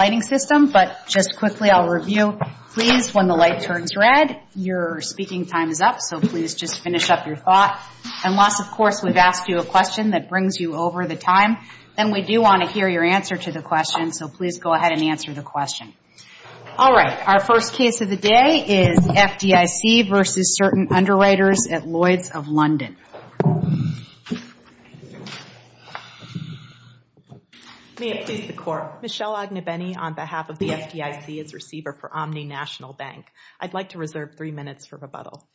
Lighting System, but just quickly, I'll review. Please, when the light turns red, your speaking time is up, so please just finish up your thought. Unless, of course, we've asked you a question that brings you over the time, then we do want to hear your answer to the question, so please go ahead and answer the question. All right. Our first case of the day is FDIC v. Certain Underwriters at Lloyd's of London. May it please the Court, Michelle Ognebeni on behalf of the FDIC as receiver for Omni National Bank. I'd like to reserve three minutes for rebuttal.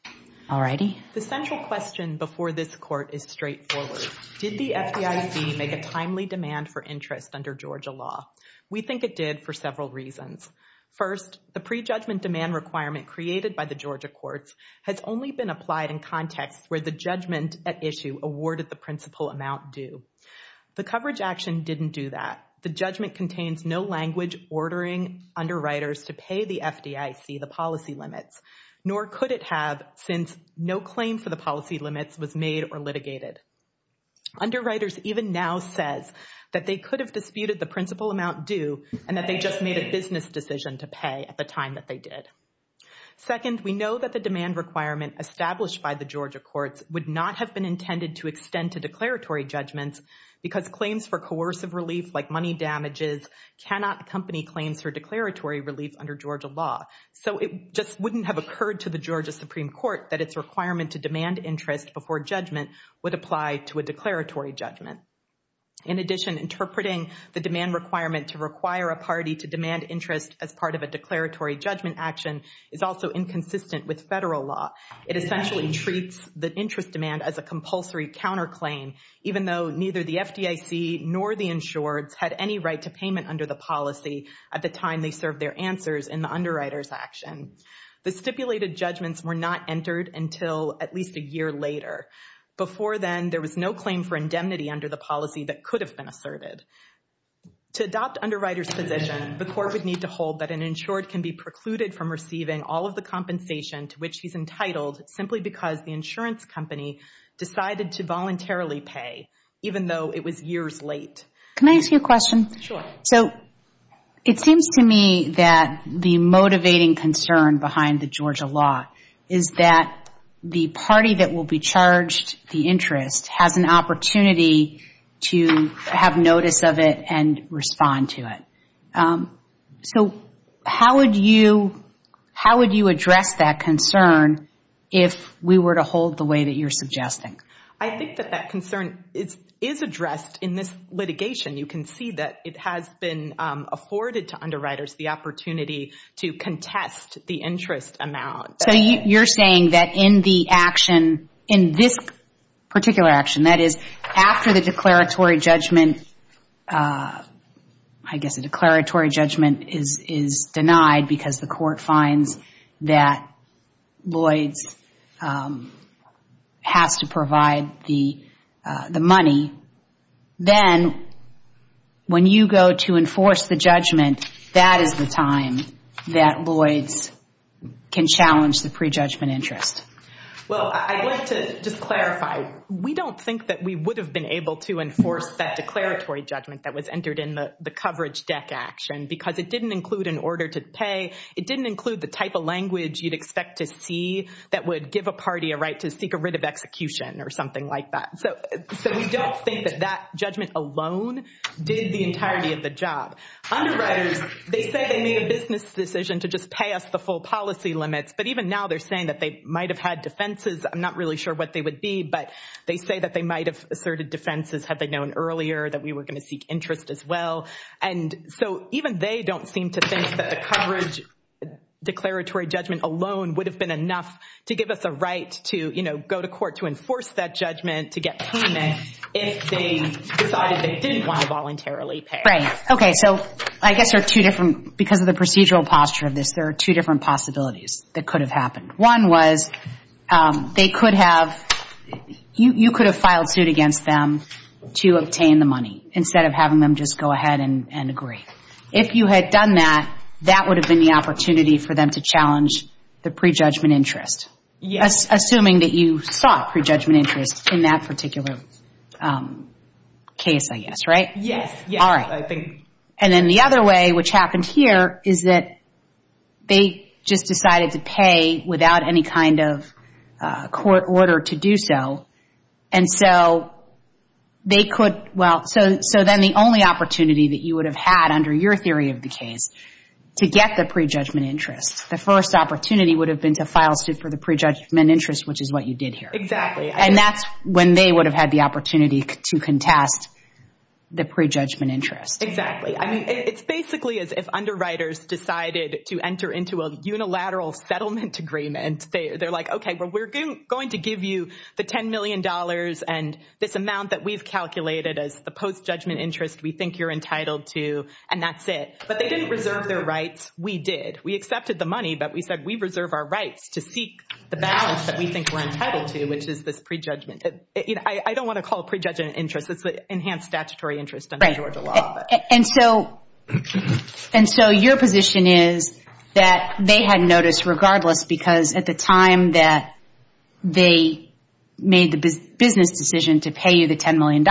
All righty. The central question before this Court is straightforward. Did the FDIC make a timely demand for interest under Georgia law? We think it did for several reasons. First, the prejudgment demand requirement created by the Georgia courts has only been applied in cases where the judgment at issue awarded the principal amount due. The coverage action didn't do that. The judgment contains no language ordering Underwriters to pay the FDIC the policy limits, nor could it have since no claim for the policy limits was made or litigated. Underwriters even now says that they could have disputed the principal amount due and that they just made a business decision to pay at the time that they did. Second, we know that the demand requirement established by the Georgia courts would not have been intended to extend to declaratory judgments because claims for coercive relief like money damages cannot accompany claims for declaratory relief under Georgia law. So it just wouldn't have occurred to the Georgia Supreme Court that its requirement to demand interest before judgment would apply to a declaratory judgment. In addition, interpreting the demand requirement to require a party to demand interest as part of a declaratory judgment action is also inconsistent with federal law. It essentially treats the interest demand as a compulsory counterclaim, even though neither the FDIC nor the insureds had any right to payment under the policy at the time they served their answers in the Underwriters action. The stipulated judgments were not entered until at least a year later. Before then, there was no claim for indemnity under the policy that could have been asserted. To adopt Underwriters' position, the court would need to hold that an insured can be precluded from receiving all of the compensation to which he's entitled simply because the insurance company decided to voluntarily pay, even though it was years late. Can I ask you a question? Sure. So it seems to me that the motivating concern behind the Georgia law is that the party that has the right to pay should have notice of it and respond to it. So how would you address that concern if we were to hold the way that you're suggesting? I think that that concern is addressed in this litigation. You can see that it has been afforded to Underwriters the opportunity to contest the interest amount. So you're saying that in the action, in this particular action, that is, after the declaratory judgment is denied because the court finds that Lloyds has to provide the money, then when you go to enforce the judgment, that is the time that Lloyds can challenge the pre-judgment interest? Well, I'd like to just clarify. We don't think that we would have been able to enforce that declaratory judgment that was entered in the coverage deck action because it didn't include an order to pay. It didn't include the type of language you'd expect to see that would give a party a right to seek a writ of execution or something like that. So we don't think that that judgment alone did the entirety of the job. Underwriters, they said they made a business decision to just pay us the full policy limits, but even now they're saying that they might have had defenses. I'm not really sure what they would be, but they say that they might have asserted defenses had they known earlier that we were going to seek interest as well. And so even they don't seem to think that the coverage declaratory judgment alone would have been enough to give us a right to go to court to enforce that judgment, to get payment if they decided they didn't want to voluntarily pay. Right. Okay. So I guess there are two different, because of the procedural posture of this, there are two different possibilities that could have happened. One was they could have, you could have filed suit against them to obtain the money instead of having them just go ahead and agree. If you had done that, that would have been the opportunity for them to challenge the pre-judgment interest. Assuming that you sought pre-judgment interest in that particular case, I guess. Right? Yes. All right. And then the other way, which happened here, is that they just decided to pay without any kind of court order to do so. And so they could, well, so then the only opportunity that you would have had under your theory of the case to get the pre-judgment interest, the first opportunity would have been to file suit for the pre-judgment interest, which is what you did here. Exactly. And that's when they would have had the opportunity to contest the pre-judgment interest. Exactly. It's basically as if underwriters decided to enter into a unilateral settlement agreement. They're like, okay, well, we're going to give you the $10 million and this amount that we've calculated as the post-judgment interest we think you're entitled to, and that's it. But they didn't reserve their rights. We did. We accepted the money, but we said we reserve our rights to seek the balance that we think we're entitled to, which is this pre-judgment. I don't want to call it pre-judgment interest. It's the enhanced statutory interest under Georgia law. And so your position is that they had noticed regardless because at the time that they made the business decision to pay you the $10 million,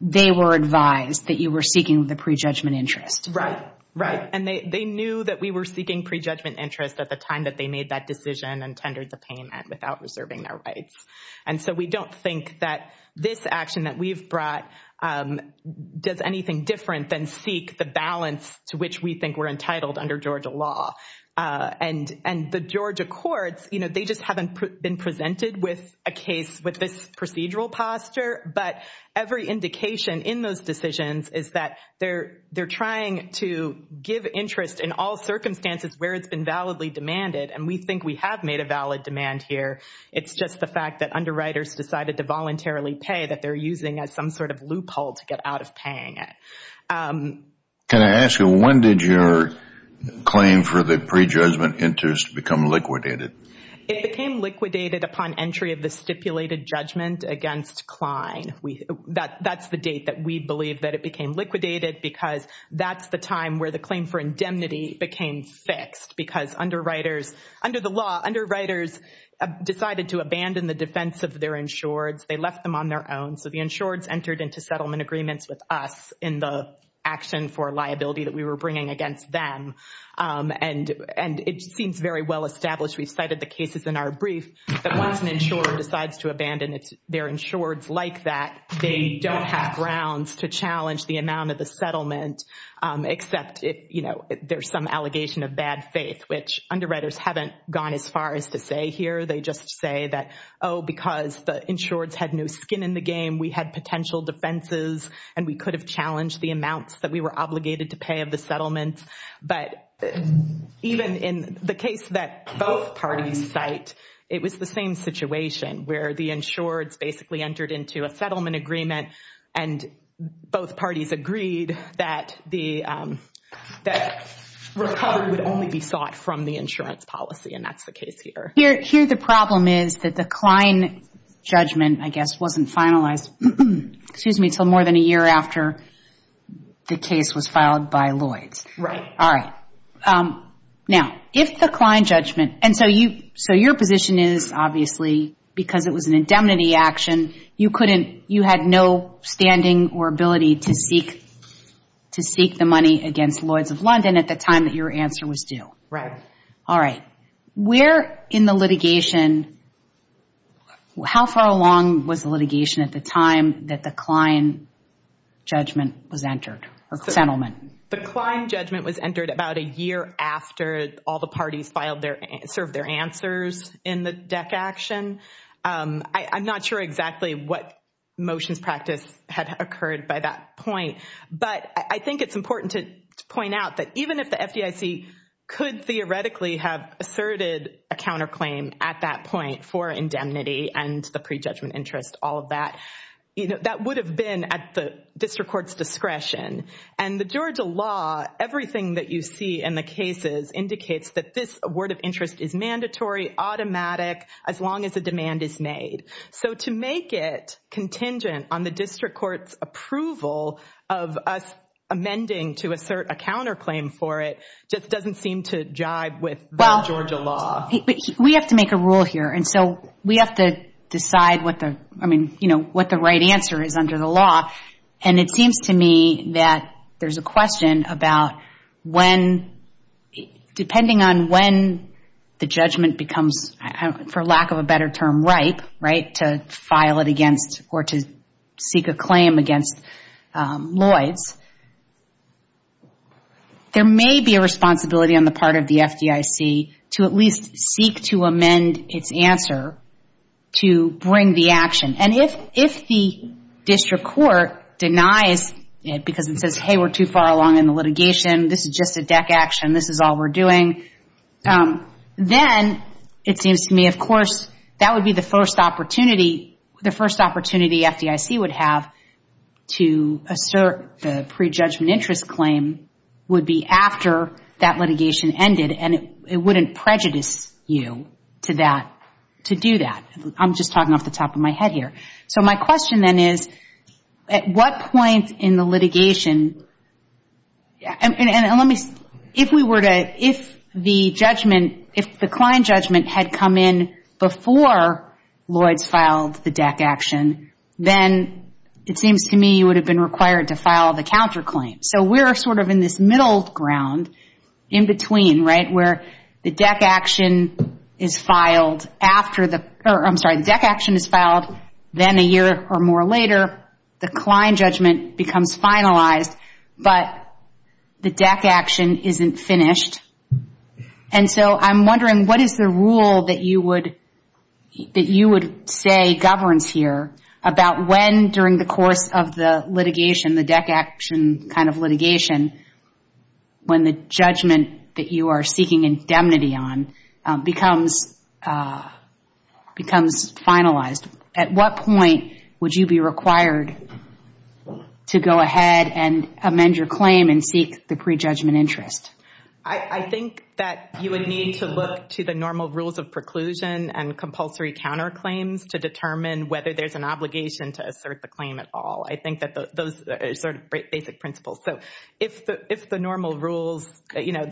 they were advised that you were seeking the pre-judgment interest. Right. Right. And they knew that we were seeking pre-judgment interest at the time that they made that decision and tendered the payment without reserving their and seek the balance to which we think we're entitled under Georgia law. And the Georgia courts, they just haven't been presented with a case with this procedural posture. But every indication in those decisions is that they're trying to give interest in all circumstances where it's been validly demanded. And we think we have made a valid demand here. It's just the fact that underwriters decided to voluntarily pay that they're using as some loophole to get out of paying it. Can I ask you, when did your claim for the pre-judgment interest become liquidated? It became liquidated upon entry of the stipulated judgment against Klein. That's the date that we believe that it became liquidated because that's the time where the claim for indemnity became fixed because underwriters, under the law, underwriters decided to abandon the defense of their insureds. They left them on their own. So the insureds entered into settlement agreements with us in the action for liability that we were bringing against them. And it seems very well-established. We've cited the cases in our brief that once an insurer decides to abandon their insureds like that, they don't have grounds to challenge the amount of the settlement except, you know, there's some allegation of bad faith, which underwriters haven't gone as far as to say here. They just say that, oh, because the insureds had no skin in the game, we had potential defenses and we could have challenged the amounts that we were obligated to pay of the settlement. But even in the case that both parties cite, it was the same situation where the insureds basically entered into a settlement agreement and both parties agreed that the that recovery would only be sought from the insurance policy, and that's the case here. Here the problem is that the Klein judgment, I guess, wasn't finalized, excuse me, until more than a year after the case was filed by Lloyds. Right. All right. Now, if the Klein judgment, and so you, so your position is, obviously, because it was an indemnity action, you couldn't, you had no standing or ability to seek, to seek the money against Lloyds of London at the time that your answer was due. Right. All right. Where in the litigation, how far along was the litigation at the time that the Klein judgment was entered, or settlement? The Klein judgment was entered about a year after all the parties filed their, served their answers in the DEC action. I'm not sure exactly what motions practice had occurred by that point, but I think it's important to point out that even if the FDIC could theoretically have asserted a counterclaim at that point for indemnity and the prejudgment interest, all of that, you know, that would have been at the district court's discretion. And the Georgia law, everything that you see in the cases indicates that this word of interest is mandatory, automatic, as long as a demand is made. So to make it contingent on the district court's approval of us amending to assert a counterclaim for it just doesn't seem to jive with the Georgia law. We have to make a rule here. And so we have to decide what the, I mean, you know, what the right answer is under the law. And it seems to me that there's a question about when, depending on when the judgment becomes, for lack of a better term, ripe, right, to file it against or to seek a claim against Lloyd's, there may be a responsibility on the part of the FDIC to at least seek to amend its answer to bring the action. And if the district court denies it because it says, hey, we're too far along in the litigation, this is just a deck action, this is all we're doing, then it seems to me, of course, that would be the first opportunity, the first opportunity FDIC would have to assert the prejudgment interest claim would be after that litigation ended. And it wouldn't prejudice you to that, to do that. I'm just talking off the top of my head here. So my question then is, at what point in the litigation, and let me, if we were to, if the judgment, if the Klein judgment had come in before Lloyd's filed the deck action, then it seems to me you would have been required to file the counterclaim. So we're sort of in this middle ground in between, right, where the deck action is filed after the, I'm sorry, the deck action is filed, then a year or more later, the Klein judgment becomes finalized, but the deck action isn't finished. And so I'm wondering what is the rule that you would, that you would say governs here about when during the course of the litigation the deck action kind of litigation, when the judgment that you are seeking indemnity on becomes finalized, at what point would you be required to go ahead and amend your claim and seek the prejudgment interest? I think that you would need to look to the normal rules of preclusion and compulsory counterclaims to determine whether there's an obligation to sort of basic principles. So if the normal rules, you know,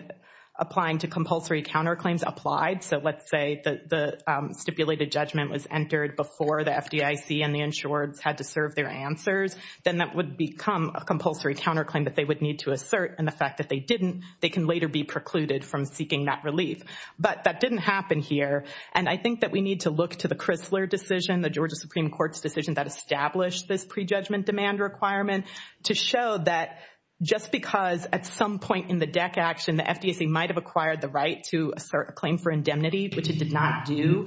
applying to compulsory counterclaims applied, so let's say the stipulated judgment was entered before the FDIC and the insureds had to serve their answers, then that would become a compulsory counterclaim that they would need to assert, and the fact that they didn't, they can later be precluded from seeking that relief. But that didn't happen here, and I think that we need to look to the Chrysler decision, the Georgia Supreme Court's decision that established this prejudgment demand requirement, to show that just because at some point in the deck action the FDIC might have acquired the right to assert a claim for indemnity, which it did not do,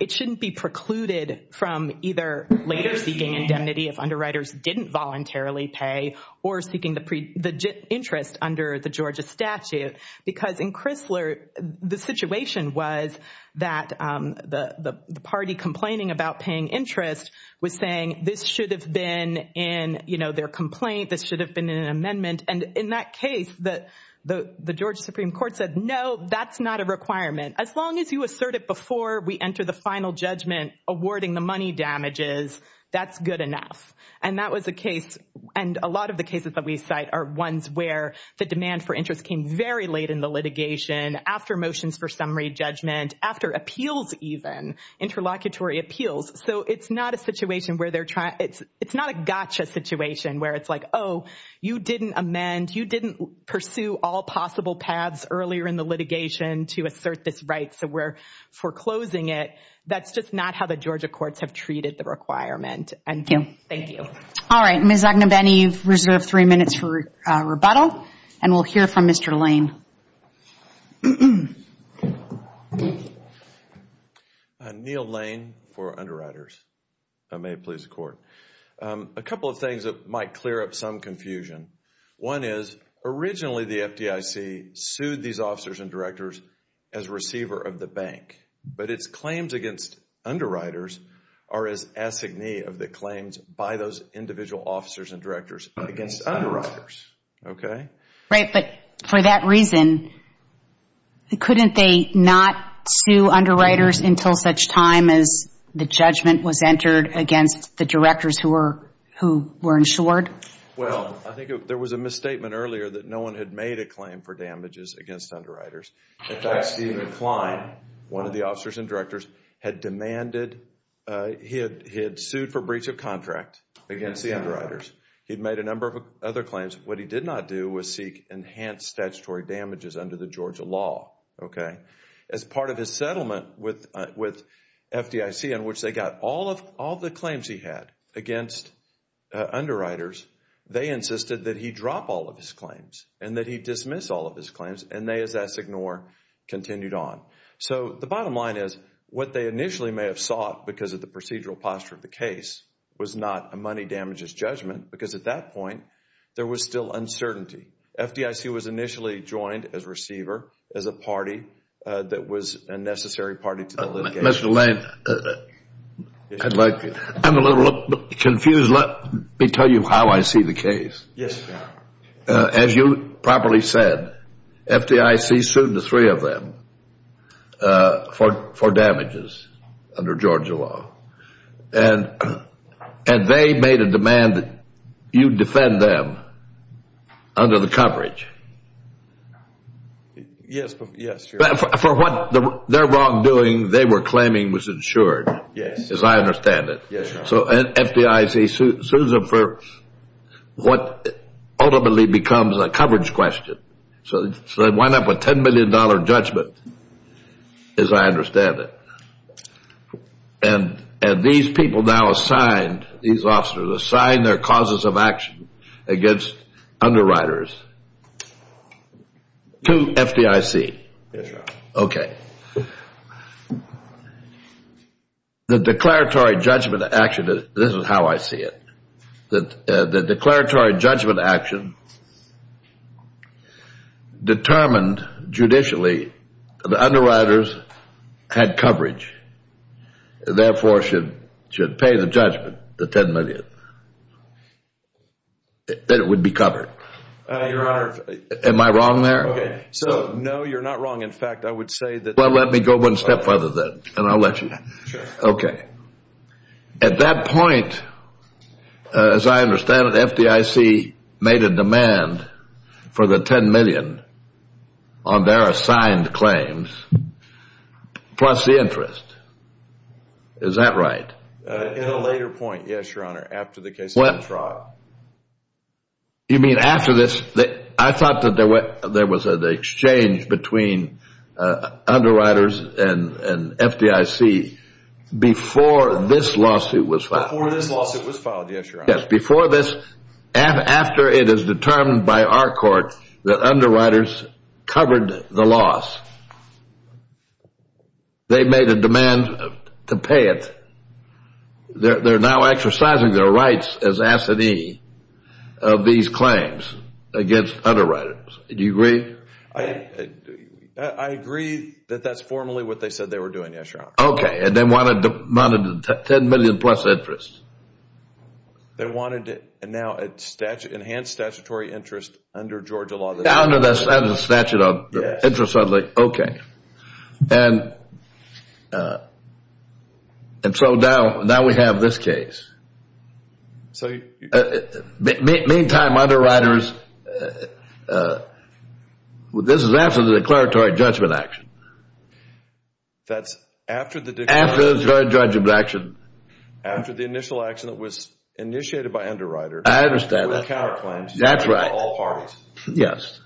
it shouldn't be precluded from either later seeking indemnity if underwriters didn't voluntarily pay or seeking the interest under the interest was saying this should have been in, you know, their complaint, this should have been in an amendment, and in that case, the Georgia Supreme Court said no, that's not a requirement. As long as you assert it before we enter the final judgment awarding the money damages, that's good enough. And that was the case, and a lot of the cases that we cite are ones where the demand for interest came very late in the litigation, after motions for summary judgment, after appeals even, interlocutory appeals. So it's not a situation where they're trying, it's not a gotcha situation where it's like, oh, you didn't amend, you didn't pursue all possible paths earlier in the litigation to assert this right, so we're foreclosing it. That's just not how the Georgia courts have treated the requirement. And thank you. All right. Ms. Agnew-Benny, you've reserved three minutes for rebuttal, and we'll hear from Mr. Lane. Neil Lane for Underwriters. May it please the Court. A couple of things that might clear up some confusion. One is, originally the FDIC sued these officers and directors as receiver of the bank, but its claims against Underwriters are as assignee of the claims by those individual officers and directors against Underwriters. Okay? Right, but for that reason, couldn't they not sue Underwriters until such time as the judgment was entered against the directors who were insured? Well, I think there was a misstatement earlier that no one had made a claim for damages against Underwriters. In fact, Stephen Klein, one of the officers and directors, had demanded, he had sued for breach of contract against the Underwriters. He'd made a number of other claims. What he did not do was seek enhanced statutory damages under the Georgia law. Okay? As part of his settlement with FDIC, in which they got all the claims he had against Underwriters, they insisted that he drop all of his claims and that he dismiss all of his claims, and they, as Assignore, continued on. So, the bottom line is, what they initially may have sought because of the procedural posture of the case was not a money damages judgment, because at that point, there was still uncertainty. FDIC was initially joined as receiver, as a party that was a necessary party to the litigation. Mr. Lane, I'm a little confused. Let me tell you how I see the case. Yes, sir. As you properly said, FDIC sued the three of them for damages under Georgia law, and they made a demand that you defend them under the coverage. Yes. For what they're wrong doing, they were claiming was insured. Yes. As I understand it. Yes, sir. So, FDIC sues them for what ultimately becomes a coverage question. So, they wind up with $10 million judgment, as I understand it. And these people now assigned, these officers assigned their causes of action against Underwriters to FDIC. Yes, sir. Okay. The declaratory judgment action, this is how I see it. The declaratory judgment action determined, judicially, the Underwriters had coverage. Therefore, should pay the judgment, the $10 million, that it would be covered. Your Honor. Am I wrong there? No, you're not wrong. In fact, I would say that. Well, let me go one step further then, and I'll let you. Okay. At that for the $10 million on their assigned claims, plus the interest. Is that right? In a later point, yes, your Honor. After the case was brought. You mean after this? I thought that there was an exchange between Underwriters and FDIC before this lawsuit was filed. Before this lawsuit was filed, yes, your Honor. Yes, before this, after it is determined by our court that Underwriters covered the loss. They made a demand to pay it. They're now exercising their rights as assignee of these claims against Underwriters. Do you agree? I agree that that's formally what they said they were doing, yes, your Honor. Okay. And they wanted $10 million plus interest. They wanted to enhance statutory interest under Georgia law. Under the statute of interest, I was like, okay. And so now we have this case. Meantime, Underwriters, this is after the declaratory judgment action. That's after the declaratory judgment action. After the initial action that was initiated by Underwriters. I understand that. That's right. Yes.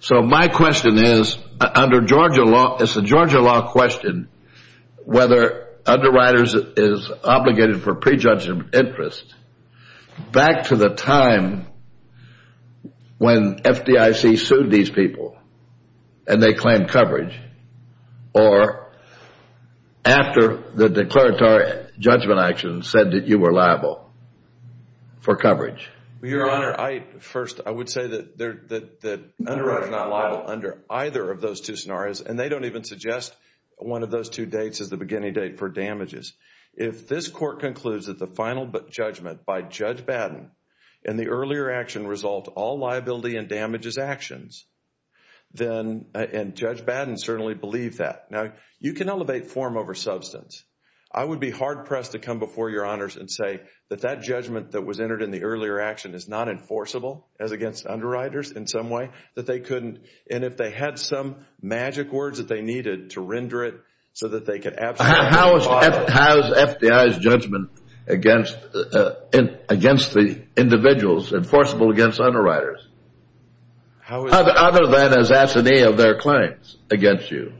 So my question is, under Georgia law, it's a Georgia law question whether Underwriters is obligated for prejudged interest back to the or after the declaratory judgment action said that you were liable for coverage. Your Honor, first, I would say that Underwriters is not liable under either of those two scenarios, and they don't even suggest one of those two dates as the beginning date for damages. If this court concludes that the final judgment by Judge Batten in the earlier action resolved all liability and damages actions, then, and Judge Batten certainly believed that. Now, you can elevate form over substance. I would be hard pressed to come before your Honors and say that that judgment that was entered in the earlier action is not enforceable as against Underwriters in some way, that they couldn't, and if they had some magic words that they needed to render it so that they could absolutely- How is FDI's judgment against the individuals enforceable against Underwriters other than as assignee of their claims against you?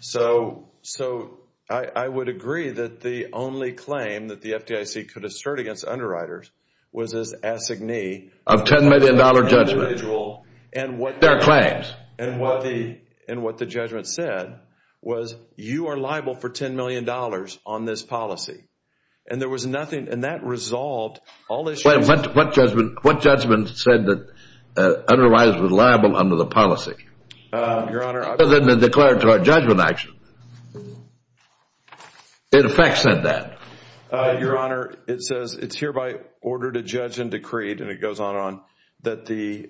So I would agree that the only claim that the FDIC could assert against Underwriters was as assignee- Of $10 million judgment. Of the individual and what- Their claims. And what the judgment said was you are liable for $10 million on this policy, what judgment said that Underwriters were liable under the policy? Your Honor- Other than the declaratory judgment action. It in fact said that. Your Honor, it says it's hereby ordered to judge and decreed, and it goes on and on, that the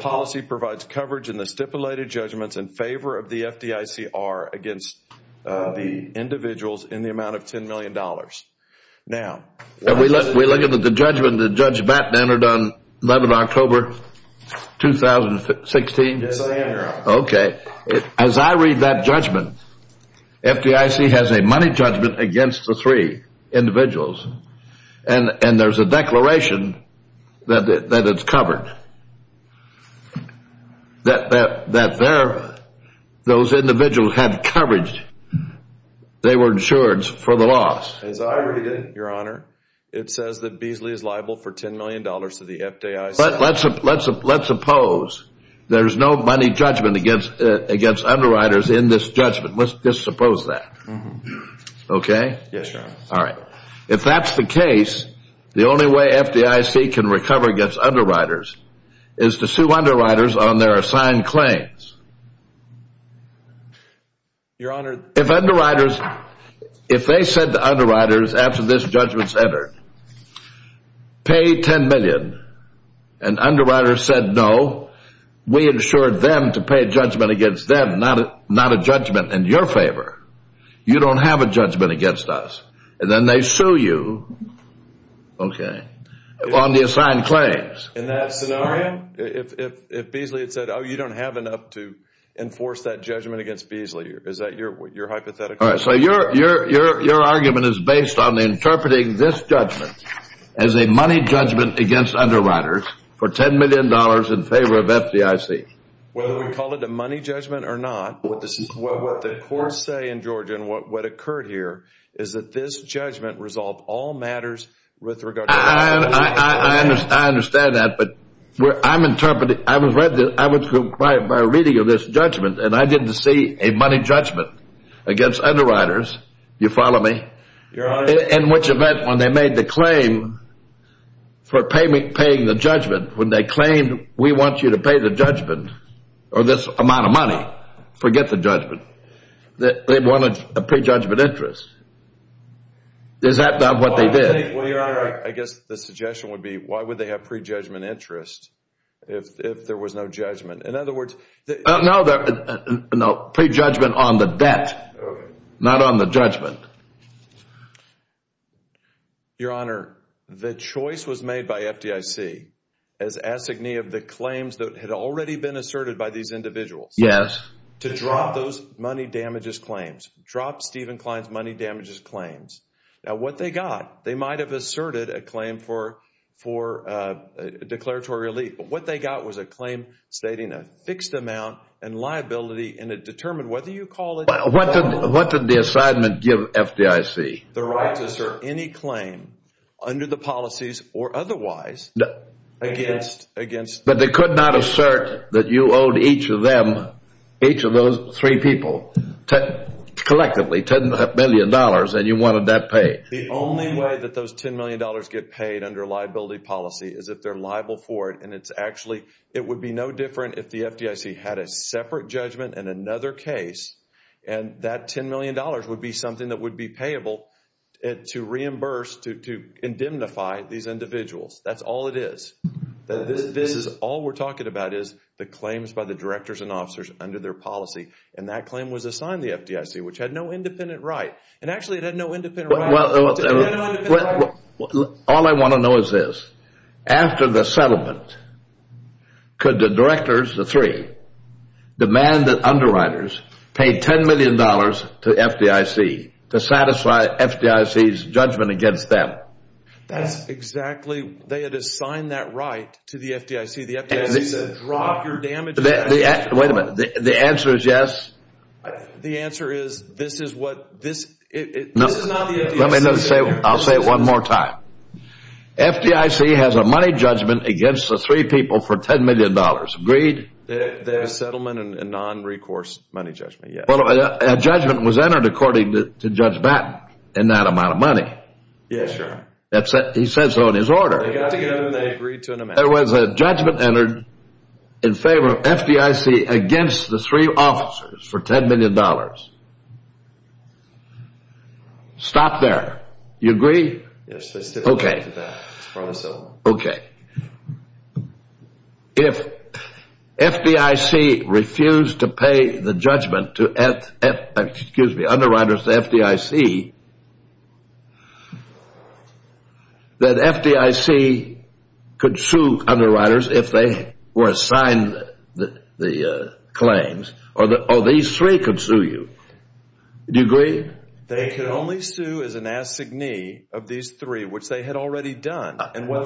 policy provides coverage in the stipulated judgments in favor of the FDICR against the individuals in the amount of $10 million. As I read it, Your Honor, it says that Beasley's liable for $10 million to the FDIC. But let's suppose there's no money judgment against Underwriters in this judgment. Let's just suppose that. Okay? Yes, Your Honor. All right. If that's the case, the only way FDIC can recover against Underwriters is to sue Underwriters on their assigned claims. Your Honor- If Underwriters- If they said to Underwriters after this judgment's entered, pay $10 million, and Underwriters said no, we insured them to pay judgment against them, not a judgment in your favor. You don't have a judgment against us. And then they sue you, okay, on the assigned claims. In that scenario, if Beasley had said, oh, you don't have enough to enforce that judgment against Beasley, is that your hypothetical? All right. So your argument is based on interpreting this judgment as a money judgment against Underwriters for $10 million in favor of FDIC. Whether we call it a money judgment or not, what the courts say in Georgia and what occurred here is that this judgment resolved all matters with regard to- I understand that, but I'm interpreting- I was quiet by reading of this judgment, and I didn't see a money judgment against Underwriters. You follow me? Your Honor- In which event, when they made the claim for paying the judgment, when they claimed, we want you to pay the judgment, or this amount of money, forget the judgment. They wanted a pre-judgment interest. Is that not what they did? Well, your Honor, I guess the suggestion would be, why would they have pre-judgment interest if there was no judgment? In other words- No, pre-judgment on the debt, not on the judgment. Your Honor, the choice was made by FDIC as assignee of the claims that had already been asserted by these individuals- Yes. To drop those money damages claims, drop Stephen Klein's money damages claims. Now, what they got, they might have asserted a claim for a declaratory relief, but what they got was a claim stating a fixed amount and liability, and it determined whether you call it- What did the assignment give FDIC? The right to assert any claim under the policies, or otherwise, against- But they could not assert that you owed each of them, each of those three people, collectively $10 million, and you wanted that paid? The only way that those $10 million get paid under liability policy is if they're liable for it, and it's actually, it would be no different if the FDIC had a separate judgment in another case, and that $10 million would be something that would be payable to reimburse, to indemnify these individuals. That's all it is. This is all we're talking about is the claims by the directors and officers under their policy, and that claim was assigned the FDIC, which had no independent right, and actually, it had no independent right- Well, all I want to know is this. After the settlement, could the directors, the three, demand that underwriters pay $10 million to FDIC to satisfy FDIC's judgment against them? That's exactly, they had assigned that right to the FDIC. The FDIC said, drop your damages- Wait a minute. The answer is yes? The answer is, this is what, this is not the FDIC- Let me say, I'll say it one more time. FDIC has a money judgment against the three people for $10 million. Agreed? Their settlement and non-recourse money judgment, yes. Well, a judgment was entered according to Judge Batten in that amount of money. Yes, sir. He said so in his order. They got together and they agreed to an amount- There was a judgment entered in favor of FDIC against the three officers for $10 million. Stop there. You agree? Yes, I stick with that. I promise so. Okay. If FDIC refused to pay the judgment to F, excuse me, underwriters to FDIC, that FDIC could sue underwriters if they were assigned the claims, or these three could sue you. Do you agree? They could only sue as an assignee of these three, which they had already done. Okay. My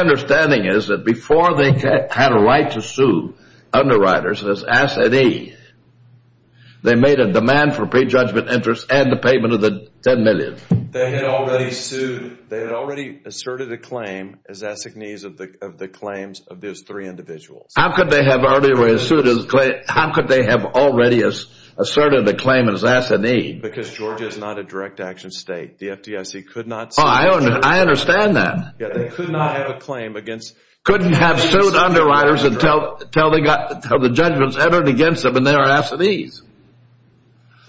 understanding is that before they had a right to sue underwriters as S and E, they made a demand for prejudgment interest and the payment of the $10 million. They had already sued. They had already asserted a claim as assignees of the claims of those three individuals. How could they have already asserted a claim as assignee? Because Georgia is not a direct action state. The FDIC could not- Oh, I understand that. Yeah. They could not have a claim against- Couldn't have sued underwriters until the judgments entered against them and they are assignees.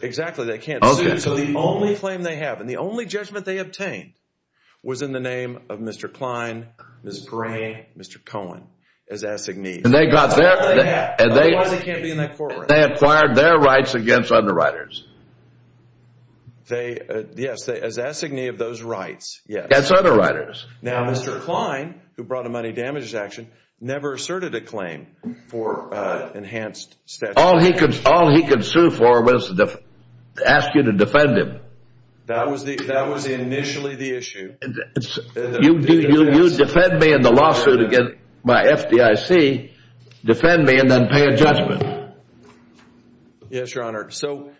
Exactly. They can't sue. The only claim they have and the only judgment they obtained was in the name of Mr. Klein, Mr. Gray, Mr. Cohen as assignees. Otherwise, they can't be in that courtroom. They acquired their rights against underwriters. Yes. As assignee of those rights. Yes. As underwriters. Now, Mr. Klein, who brought a money damages action, never asserted a claim for enhanced- All he could sue for was to ask you to defend him. That was initially the issue. You defend me in the lawsuit against my FDIC, defend me, and then pay a judgment. Yes, Your Honor. So-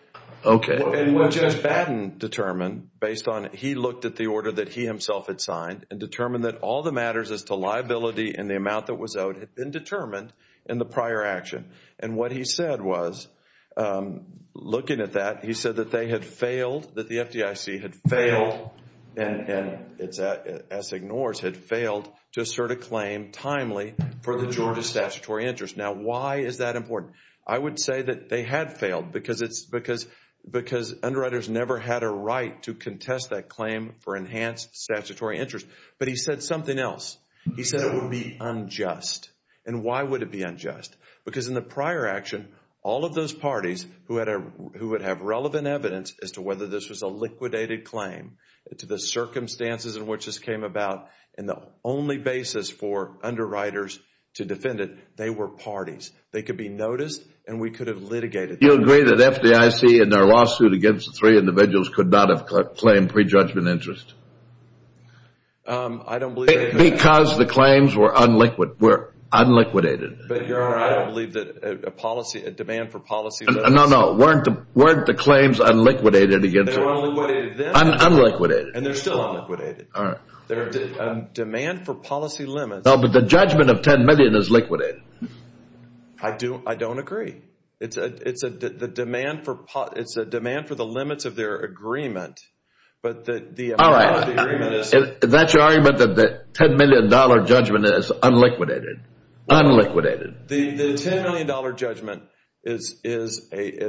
Okay. What Jeff Batten determined based on, he looked at the order that he himself had signed and determined that all the matters as to liability and the amount that was owed had been determined in the prior action. And what he said was, looking at that, he said that they had failed, that the FDIC had failed, and it's as ignores, had failed to assert a claim timely for the Georgia statutory interest. Now, why is that important? I would say that they had failed because underwriters never had a right to contest that claim for enhanced statutory interest. But he said something else. He said it would be unjust. And why would it be unjust? Because in the prior action, all of those parties who would have relevant evidence as to whether this was a liquidated claim, to the circumstances in which this came about, and the only basis for underwriters to defend it, they were parties. They could be noticed, and we could have litigated them. You agree that FDIC in their lawsuit against the three individuals could not have claimed prejudgment interest? I don't believe- Because the claims were unliquidated. But Your Honor, I don't believe that a policy, a demand for policy- Weren't the claims unliquidated against- They were unliquidated then. Unliquidated. And they're still unliquidated. Demand for policy limits- No, but the judgment of $10 million is liquidated. I don't agree. It's a demand for the limits of their agreement. But the amount of the agreement- That's your argument that the $10 million judgment is unliquidated. Unliquidated. The $10 million judgment is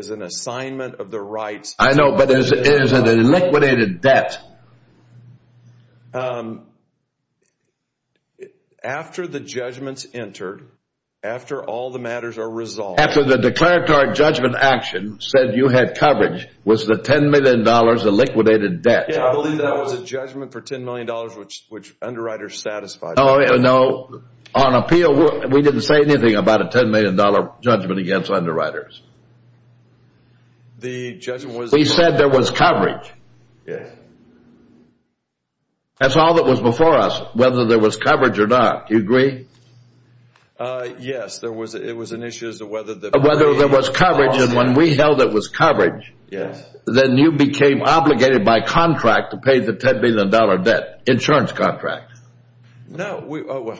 an assignment of the rights- I know, but it is an unliquidated debt. After the judgments entered, after all the matters are resolved- After the declaratory judgment action said you had coverage, was the $10 million a liquidated debt? Yeah, I believe that was a judgment for $10 million, which underwriters satisfied. No, on appeal, we didn't say anything about a $10 million judgment against underwriters. The judgment was- We said there was coverage. Yes. That's all that was before us, whether there was coverage or not. Do you agree? Yes, it was an issue as to whether- Whether there was coverage, and when we held it was coverage- Yes. Then you became obligated by contract to pay the $10 million debt, insurance contract. No,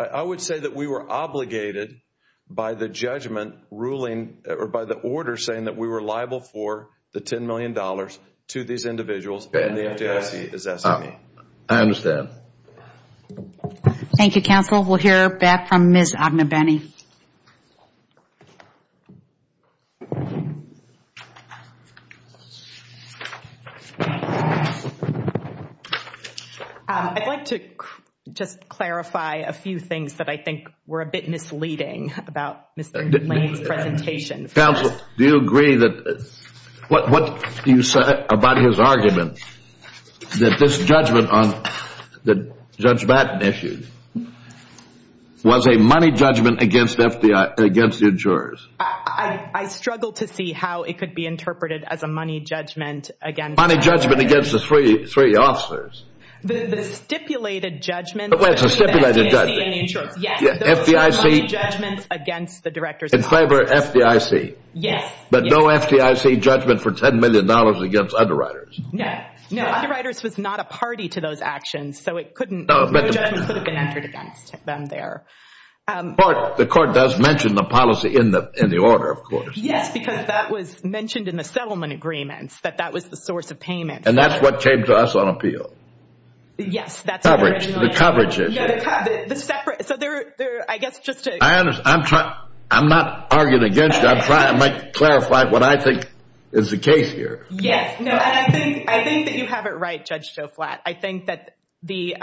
I would say that we were obligated by the judgment ruling, or by the order saying that we were liable for the $10 million to these individuals. I understand. Thank you, counsel. We'll hear back from Ms. Agnew-Benny. I'd like to just clarify a few things that I think were a bit misleading about Mr. Lane's presentation. Counsel, do you agree that what you said about his argument, that this judgment on the Judge Madden issue, was a money judgment against the insurers? I struggled to see how it could be interpreted as a money judgment against- Money judgment against the three officers. The stipulated judgment- Well, it's a stipulated judgment. Yes, those are money judgments against the directors- In favor of FDIC. Yes. But no FDIC judgment for $10 million against underwriters. No, underwriters was not a party to those actions, so no judgment could have been entered against them there. The court does mention the policy in the order, of course. Yes, because that was mentioned in the settlement agreements, that that was the source of payment. And that's what came to us on appeal. Yes, that's what- Coverage, the coverage issue. So, I guess just to- I understand. I'm not arguing against you. I'm trying to clarify what I think is the case here. Yes, and I think that you have it right, Judge Joflat. I think that the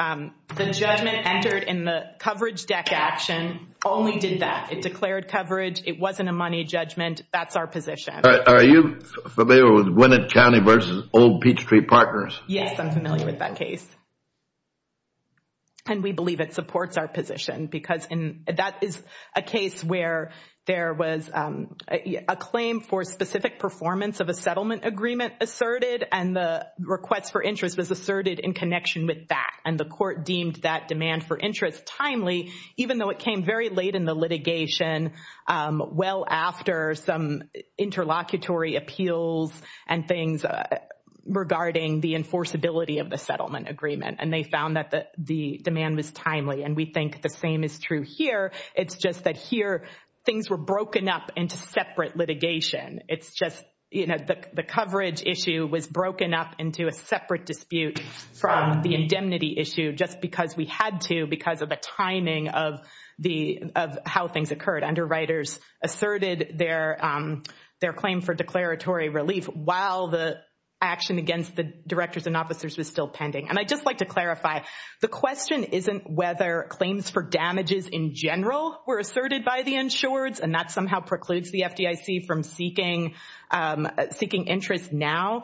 judgment entered in the coverage deck action only did that. It declared coverage. It wasn't a money judgment. That's our position. Are you familiar with Winnett County versus Old Peachtree Partners? Yes, I'm familiar with that case. And we believe it supports our position because that is a case where there was a claim for specific performance of a settlement agreement asserted, and the request for interest was asserted in connection with that. And the court deemed that demand for interest timely, even though it came very late in the litigation, well after some interlocutory appeals and things regarding the enforceability of the settlement agreement. And they found that the demand was timely. And we think the same is true here. It's just that here, things were broken up into separate litigation. It's just the coverage issue was broken up into a separate dispute from the indemnity issue, just because we had to, because of the timing of how things occurred. Underwriters asserted their claim for declaratory relief while the action against the directors and officers was still pending. And I'd just like to clarify. The question isn't whether claims for damages in general were asserted by the insureds, and that somehow precludes the FDIC from seeking interest now.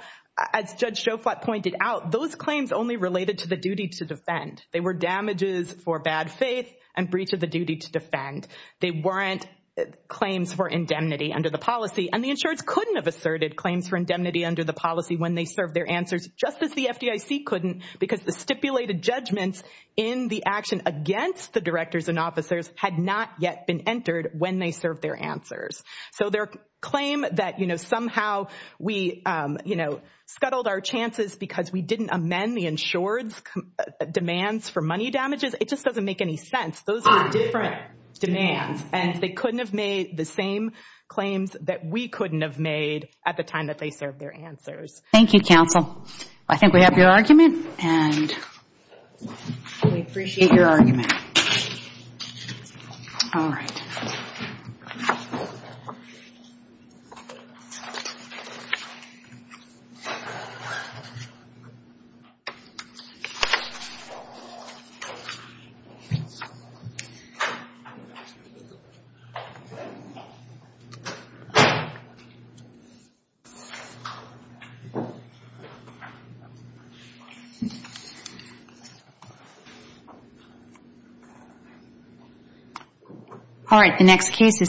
As Judge Schoflot pointed out, those claims only related to the duty to defend. They were damages for bad faith and breach of the duty to defend. They weren't claims for indemnity under the policy. And the insureds couldn't have asserted claims for indemnity under the policy when they served their answers, just as the FDIC couldn't, because the stipulated judgments in the action against the directors and officers had not yet been entered when they served their answers. So their claim that, you know, somehow we, you know, scuttled our chances because we didn't amend the insured's demands for money damages, it just doesn't make any sense. Those are different demands. And they couldn't have made the same claims that we couldn't have made at the time that they served their answers. Thank you, counsel. I think we have your argument, and we appreciate your argument. All right. Thank you. All right, the next case is.